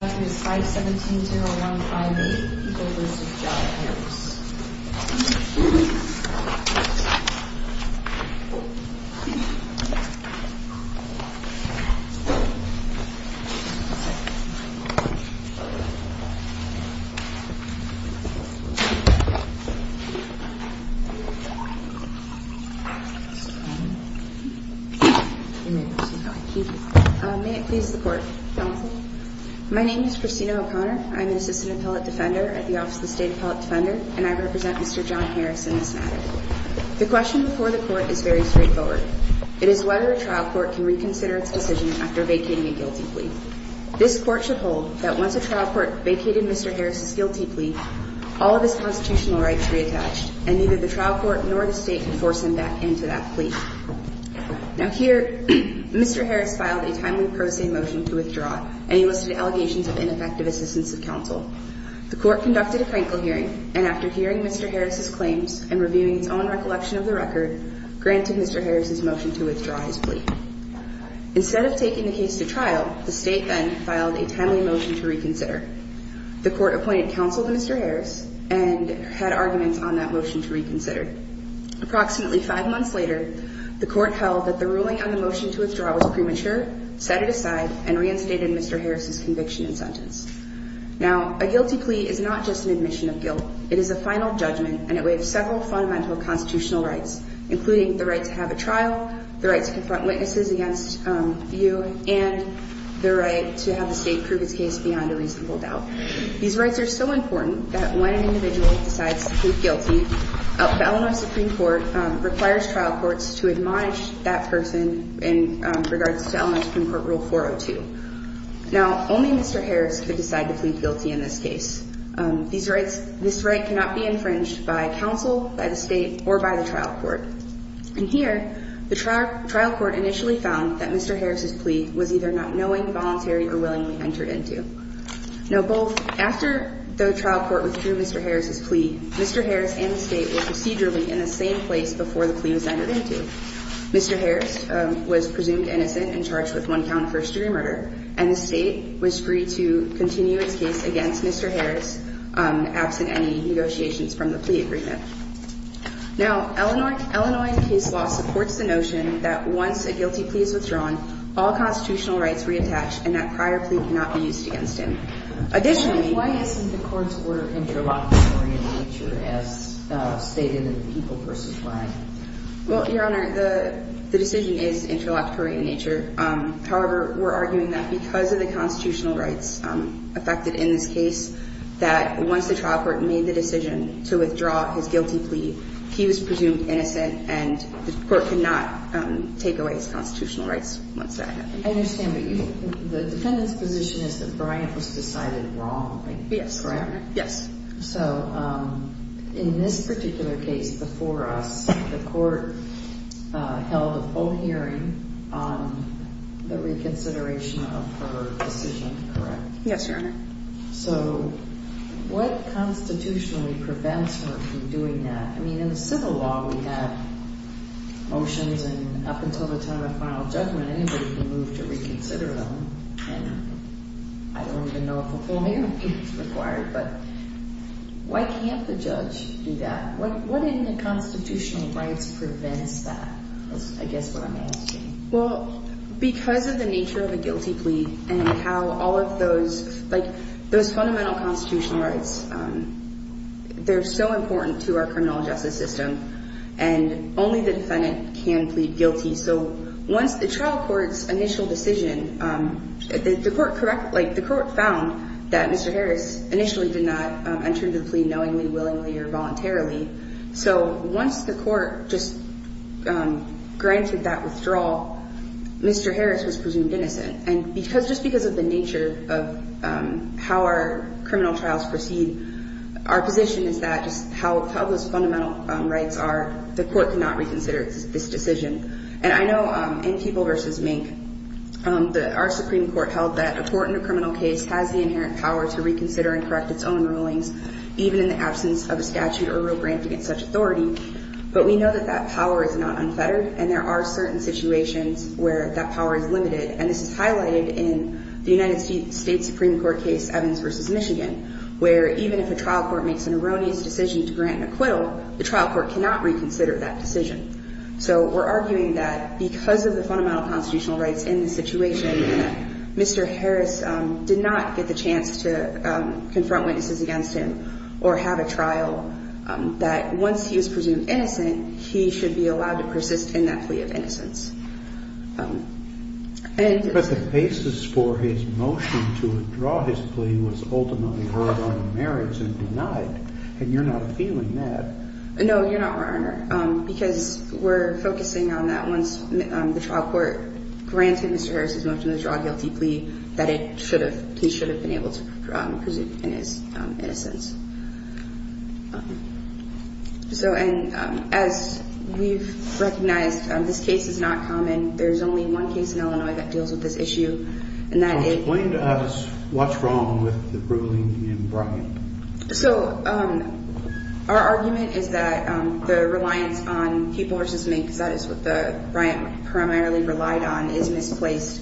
517-015-8, people v. John Harris May I please report? Counsel? My name is Christina O'Connor. I'm an assistant appellate defender at the Office of the State Appellate Defender, and I represent Mr. John Harris in this matter. The question before the Court is very straightforward. It is whether a trial court can reconsider its decision after vacating a guilty plea. This Court should hold that once a trial court vacated Mr. Harris's guilty plea, all of his constitutional rights reattached, and neither the trial court nor the State could force him back into that plea. Now here, Mr. Harris filed a timely pro se motion to withdraw, and he listed allegations of ineffective assistance of counsel. The Court conducted a crankle hearing, and after hearing Mr. Harris's claims and reviewing its own recollection of the record, granted Mr. Harris's motion to withdraw his plea. Instead of taking the case to trial, the State then filed a timely motion to reconsider. The Court appointed counsel to Mr. Harris, and had arguments on that motion to reconsider. Approximately five months later, the Court held that the ruling on the motion to withdraw was premature, set it aside, and reinstated Mr. Harris's conviction and sentence. Now, a guilty plea is not just an admission of guilt. It is a final judgment, and it waives several fundamental constitutional rights, including the right to have a trial, the right to confront witnesses against you, and the right to have the State prove its case beyond a reasonable doubt. These rights are so important that when an individual decides to plead guilty, the Illinois Supreme Court requires trial courts to admonish that person in regards to Illinois Supreme Court Rule 402. Now, only Mr. Harris could decide to plead guilty in this case. This right cannot be infringed by counsel, by the State, or by the trial court. And here, the trial court initially found that Mr. Harris's plea was either not knowing, voluntary, or willingly entered into. Now, both – after the trial court withdrew Mr. Harris's plea, Mr. Harris and the State were procedurally in the same place before the plea was entered into. Mr. Harris was presumed innocent and charged with one count of first-degree murder, and the State was free to continue its case against Mr. Harris absent any negotiations from the plea agreement. Now, Illinois – Illinois case law supports the notion that once a guilty plea is withdrawn, all constitutional rights reattach and that prior plea cannot be used against him. Additionally – Why isn't the court's order interlocutory in nature as stated in the Equal Persons Act? Well, Your Honor, the decision is interlocutory in nature. However, we're arguing that because of the constitutional rights affected in this case, that once the trial court made the decision to withdraw his guilty plea, he was presumed innocent and the court could not take away his constitutional rights once that happened. I understand, but the defendant's position is that Bryant was decided wrong, correct? Yes, Your Honor. So, in this particular case before us, the court held a full hearing on the reconsideration of her decision, correct? Yes, Your Honor. So, what constitutionally prevents her from doing that? I mean, in the civil law, we have motions, and up until the time of final judgment, anybody can move to reconsider them, and I don't even know if a full hearing is required, but why can't the judge do that? What in the constitutional rights prevents that is, I guess, what I'm asking. Well, because of the nature of a guilty plea and how all of those fundamental constitutional rights, they're so important to our criminal justice system, and only the defendant can plead guilty. So, once the trial court's initial decision, the court found that Mr. Harris initially did not enter the plea knowingly, willingly, or voluntarily. So, once the court just granted that withdrawal, Mr. Harris was presumed innocent, and just because of the nature of how our criminal trials proceed, our position is that just how those fundamental rights are, the court cannot reconsider this decision. And I know in People v. Mink, our Supreme Court held that a court in a criminal case has the inherent power to reconsider and correct its own rulings, even in the absence of a statute or rule granting it such authority, but we know that that power is not unfettered, and there are certain situations where that power is limited, and this is highlighted in the United States Supreme Court case, Evans v. Michigan, where even if a trial court makes an erroneous decision to grant an acquittal, the trial court cannot reconsider that decision. So, we're arguing that because of the fundamental constitutional rights in the situation, Mr. Harris did not get the chance to confront witnesses against him or have a trial, that once he was presumed innocent, he should be allowed to persist in that plea of innocence. And the basis for his motion to withdraw his plea was ultimately heard on the merits and denied, and you're not appealing that. No, Your Honor, because we're focusing on that once the trial court granted Mr. Harris's motion to withdraw his plea, that he should have been able to persist in his innocence. So, and as we've recognized, this case is not common. There's only one case in Illinois that deals with this issue, and that is- Explain to us what's wrong with the ruling in Bryant. So, our argument is that the reliance on people versus me, because that is what the Bryant primarily relied on, is misplaced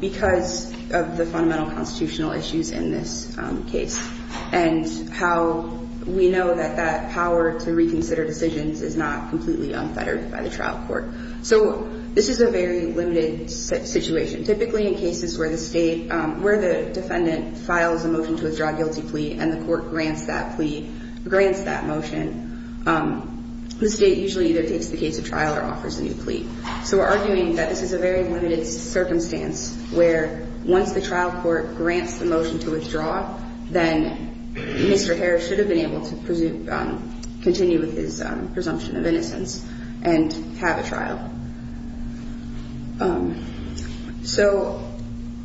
because of the fundamental constitutional issues in this case. And how we know that that power to reconsider decisions is not completely unfettered by the trial court. So, this is a very limited situation. Typically, in cases where the State, where the defendant files a motion to withdraw a guilty plea, and the court grants that plea, grants that motion, the State usually either takes the case to trial or offers a new plea. So, we're arguing that this is a very limited circumstance where once the trial court grants the motion to withdraw, then Mr. Harris should have been able to continue with his presumption of innocence and have a trial. So,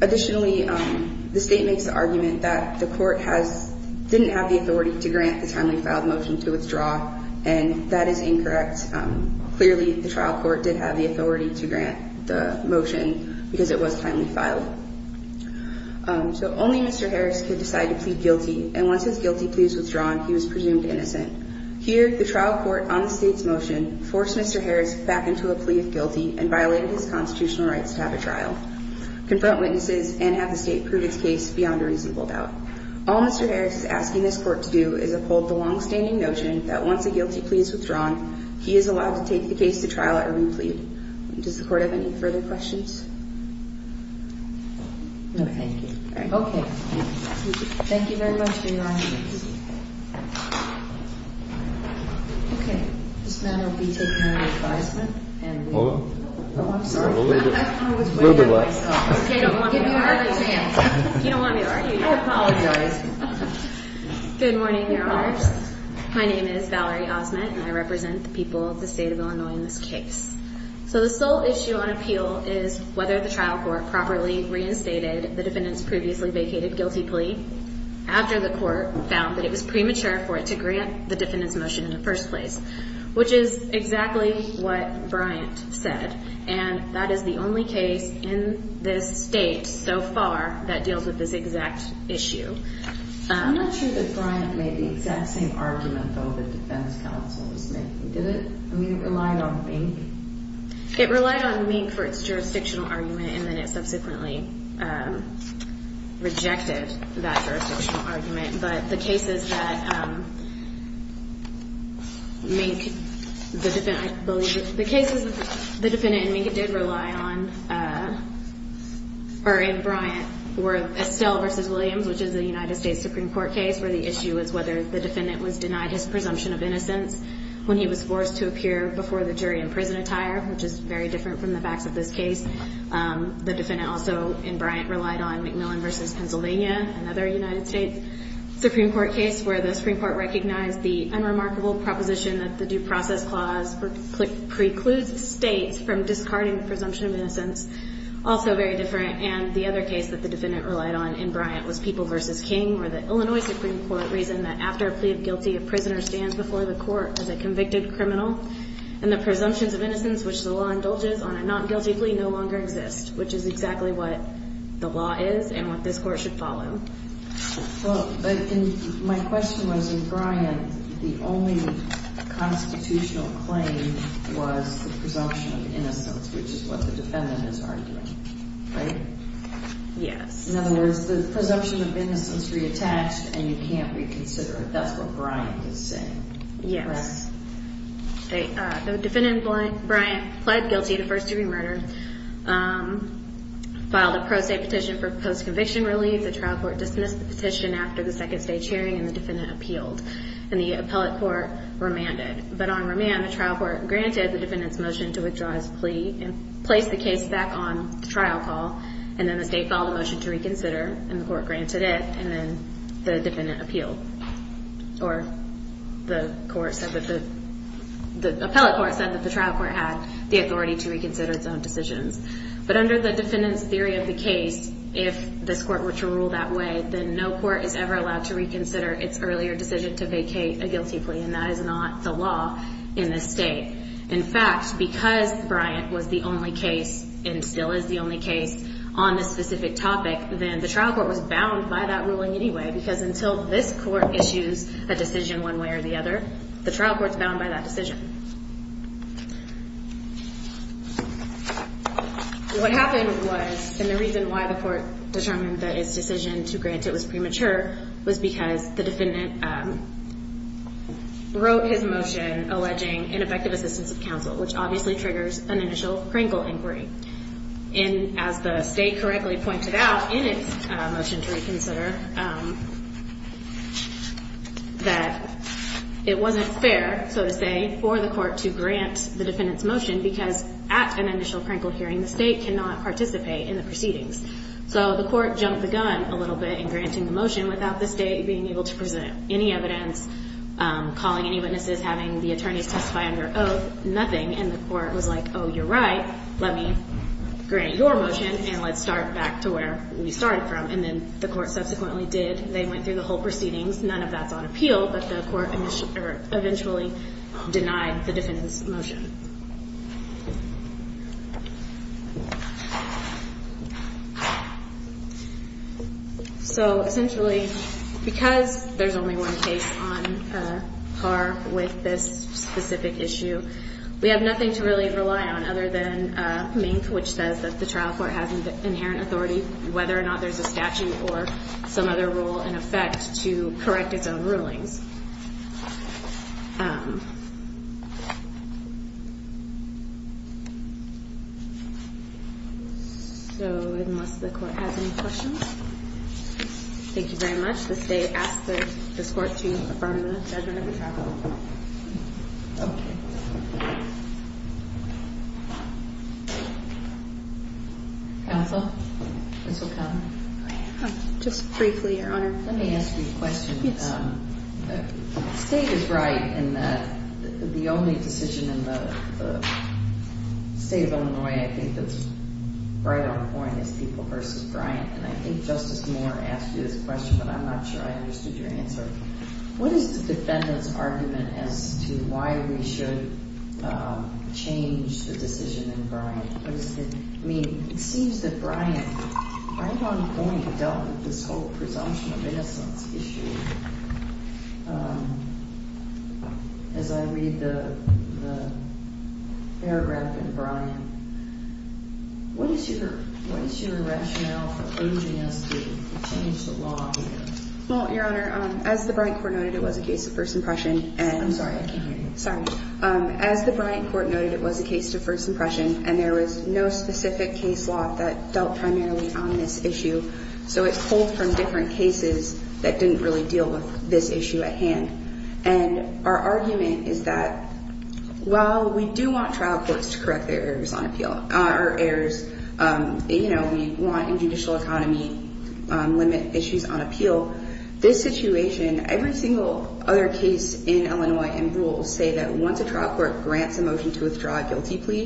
additionally, the State makes the argument that the court didn't have the authority to grant the timely filed motion to withdraw, and that is incorrect. Clearly, the trial court did have the authority to grant the motion because it was timely filed. So, only Mr. Harris could decide to plead guilty, and once his guilty plea was withdrawn, he was presumed innocent. Here, the trial court, on the State's motion, forced Mr. Harris back into a plea of guilty and violated his constitutional rights to have a trial, confront witnesses, and have the State prove his case beyond a reasonable doubt. All Mr. Harris is asking this court to do is uphold the longstanding notion that once a guilty plea is withdrawn, he is allowed to take the case to trial at a new plea. Does the court have any further questions? No, thank you. Okay. Thank you very much for your argument. Okay. This man will be taking the advisement. Hold on. Oh, I'm sorry. I was way ahead of myself. Okay, I don't want to give you a hard chance. You don't want me to argue, do you? I apologize. Good morning, Your Honors. Good morning. My name is Valerie Osment, and I represent the people of the State of Illinois in this case. So the sole issue on appeal is whether the trial court properly reinstated the defendant's previously vacated guilty plea after the court found that it was premature for it to grant the defendant's motion in the first place, which is exactly what Bryant said. And that is the only case in this State so far that deals with this exact issue. I'm not sure that Bryant made the exact same argument, though, the defense counsel was making. Did it? I mean, it relied on Mink. It relied on Mink for its jurisdictional argument, and then it subsequently rejected that jurisdictional argument. But the cases that Mink, the defendant, I believe, the cases the defendant and Mink did rely on or in Bryant were Estelle v. Williams, which is a United States Supreme Court case, where the issue is whether the defendant was denied his presumption of innocence when he was forced to appear before the jury in prison attire, which is very different from the facts of this case. The defendant also in Bryant relied on McMillan v. Pennsylvania, another United States Supreme Court case, where the Supreme Court recognized the unremarkable proposition that the due process clause precludes states from discarding the presumption of innocence, also very different. And the other case that the defendant relied on in Bryant was People v. King, where the Illinois Supreme Court reasoned that after a plea of guilty, a prisoner stands before the court as a convicted criminal, and the presumptions of innocence which the law indulges on a not guilty plea no longer exist, which is exactly what the law is and what this Court should follow. But my question was in Bryant, the only constitutional claim was the presumption of innocence, which is what the defendant is arguing, right? Yes. In other words, the presumption of innocence reattached and you can't reconsider it. That's what Bryant is saying. Yes. Correct? The defendant, Bryant, pled guilty to first-degree murder, filed a pro se petition for post-conviction relief. The trial court dismissed the petition after the second stage hearing, and the defendant appealed. And the appellate court remanded. But on remand, the trial court granted the defendant's motion to withdraw his plea and placed the case back on trial call, and then the state filed a motion to reconsider, and the court granted it, and then the defendant appealed. Or the court said that the—the appellate court said that the trial court had the authority to reconsider its own decisions. But under the defendant's theory of the case, if this court were to rule that way, then no court is ever allowed to reconsider its earlier decision to vacate a guilty plea, and that is not the law in this state. In fact, because Bryant was the only case and still is the only case on this specific topic, then the trial court was bound by that ruling anyway, because until this court issues a decision one way or the other, the trial court is bound by that decision. What happened was, and the reason why the court determined that its decision to grant it was premature, was because the defendant wrote his motion alleging ineffective assistance of counsel, which obviously triggers an initial Kringle inquiry. And as the state correctly pointed out in its motion to reconsider, that it wasn't fair, so to say, for the court to grant the defendant's motion, because at an initial Kringle hearing, the state cannot participate in the proceedings. So the court jumped the gun a little bit in granting the motion without the state being able to present any evidence, calling any witnesses, having the attorneys testify under oath, nothing, and the court was like, oh, you're right, let me grant your motion and let's start back to where we started from. And then the court subsequently did. They went through the whole proceedings. None of that's on appeal, but the court eventually denied the defendant's motion. So essentially, because there's only one case on par with this specific issue, we have nothing to really rely on other than Mink, which says that the trial court has inherent authority, whether or not there's a statute or some other rule in effect to correct its own rulings. So unless the court has any questions. Thank you very much. Does the state ask this court to affirm the judgment of the trial? Okay. Counsel? Ms. O'Connor? Just briefly, Your Honor. Let me ask you a question. The state is right in that the only decision in the state of Illinois I think that's right on point is People v. Bryant. And I think Justice Moore asked you this question, but I'm not sure I understood your answer. What is the defendant's argument as to why we should change the decision in Bryant? I mean, it seems that Bryant right on point dealt with this whole presumption of innocence issue. As I read the paragraph in Bryant, what is your rationale for urging us to change the law here? Well, Your Honor, as the Bryant court noted, it was a case of first impression. I'm sorry. I can't hear you. Sorry. As the Bryant court noted, it was a case of first impression, and there was no specific case law that dealt primarily on this issue. So it pulled from different cases that didn't really deal with this issue at hand. And our argument is that while we do want trial courts to correct their errors on appeal, our errors, you know, we want in judicial economy limit issues on appeal, this situation, every single other case in Illinois and rules say that once a trial court grants a motion to withdraw a guilty plea,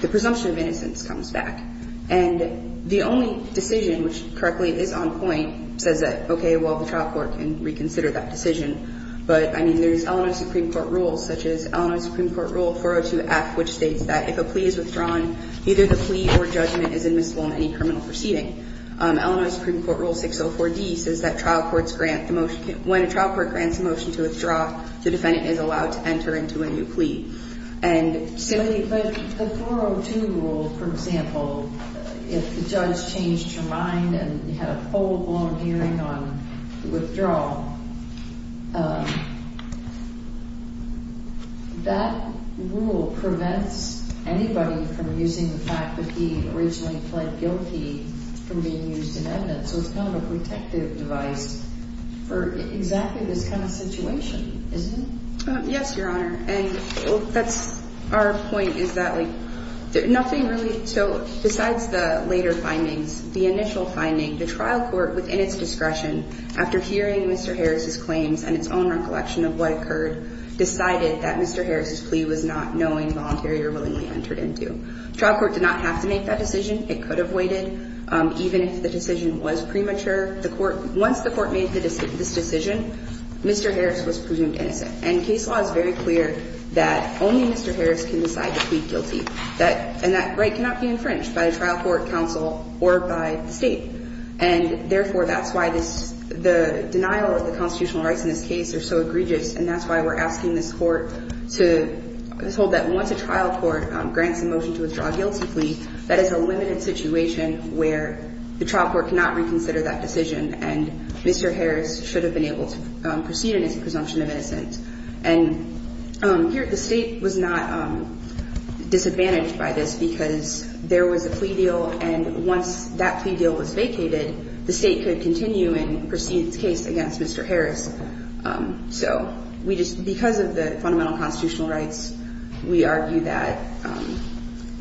the presumption of innocence comes back. And the only decision which correctly is on point says that, okay, well, the trial court can reconsider that decision. But, I mean, there's Illinois Supreme Court rules such as Illinois Supreme Court Rule 402F, which states that if a plea is withdrawn, either the plea or judgment is admissible in any criminal proceeding. Illinois Supreme Court Rule 604D says that trial courts grant the motion. When a trial court grants a motion to withdraw, the defendant is allowed to enter into a new plea. But the 402 rule, for example, if the judge changed her mind and had a full-blown hearing on withdrawal, that rule prevents anybody from using the fact that he originally pled guilty from being used in evidence. So it's kind of a protective device for exactly this kind of situation, isn't it? Yes, Your Honor. And that's our point is that, like, nothing really. So besides the later findings, the initial finding, the trial court, within its discretion, after hearing Mr. Harris's claims and its own recollection of what occurred, decided that Mr. Harris's plea was not knowing, voluntary, or willingly entered into. Trial court did not have to make that decision. It could have waited, even if the decision was premature. Once the court made this decision, Mr. Harris was presumed innocent. And case law is very clear that only Mr. Harris can decide to plead guilty. And that right cannot be infringed by a trial court, counsel, or by the State. And, therefore, that's why the denial of the constitutional rights in this case are so egregious. And that's why we're asking this Court to withhold that once a trial court grants a motion to withdraw a guilty plea, that is a limited situation where the trial court cannot reconsider that decision and Mr. Harris should have been able to proceed and it's a presumption of innocence. And here the State was not disadvantaged by this because there was a plea deal and once that plea deal was vacated, the State could continue and proceed its case against Mr. Harris. So we just, because of the fundamental constitutional rights, we argue that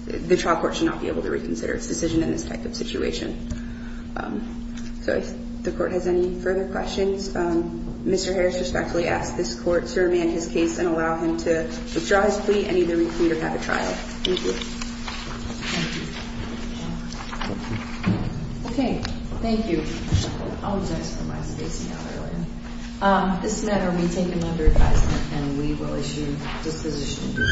the trial court should not be able to reconsider its decision in this type of situation. So if the Court has any further questions, Mr. Harris respectfully asks this Court to remand his case and allow him to withdraw his plea and either recoup or have a trial. Thank you. Okay, thank you. I'll just ask for my space now, really. This matter will be taken under advisement and we will issue disposition before the Court.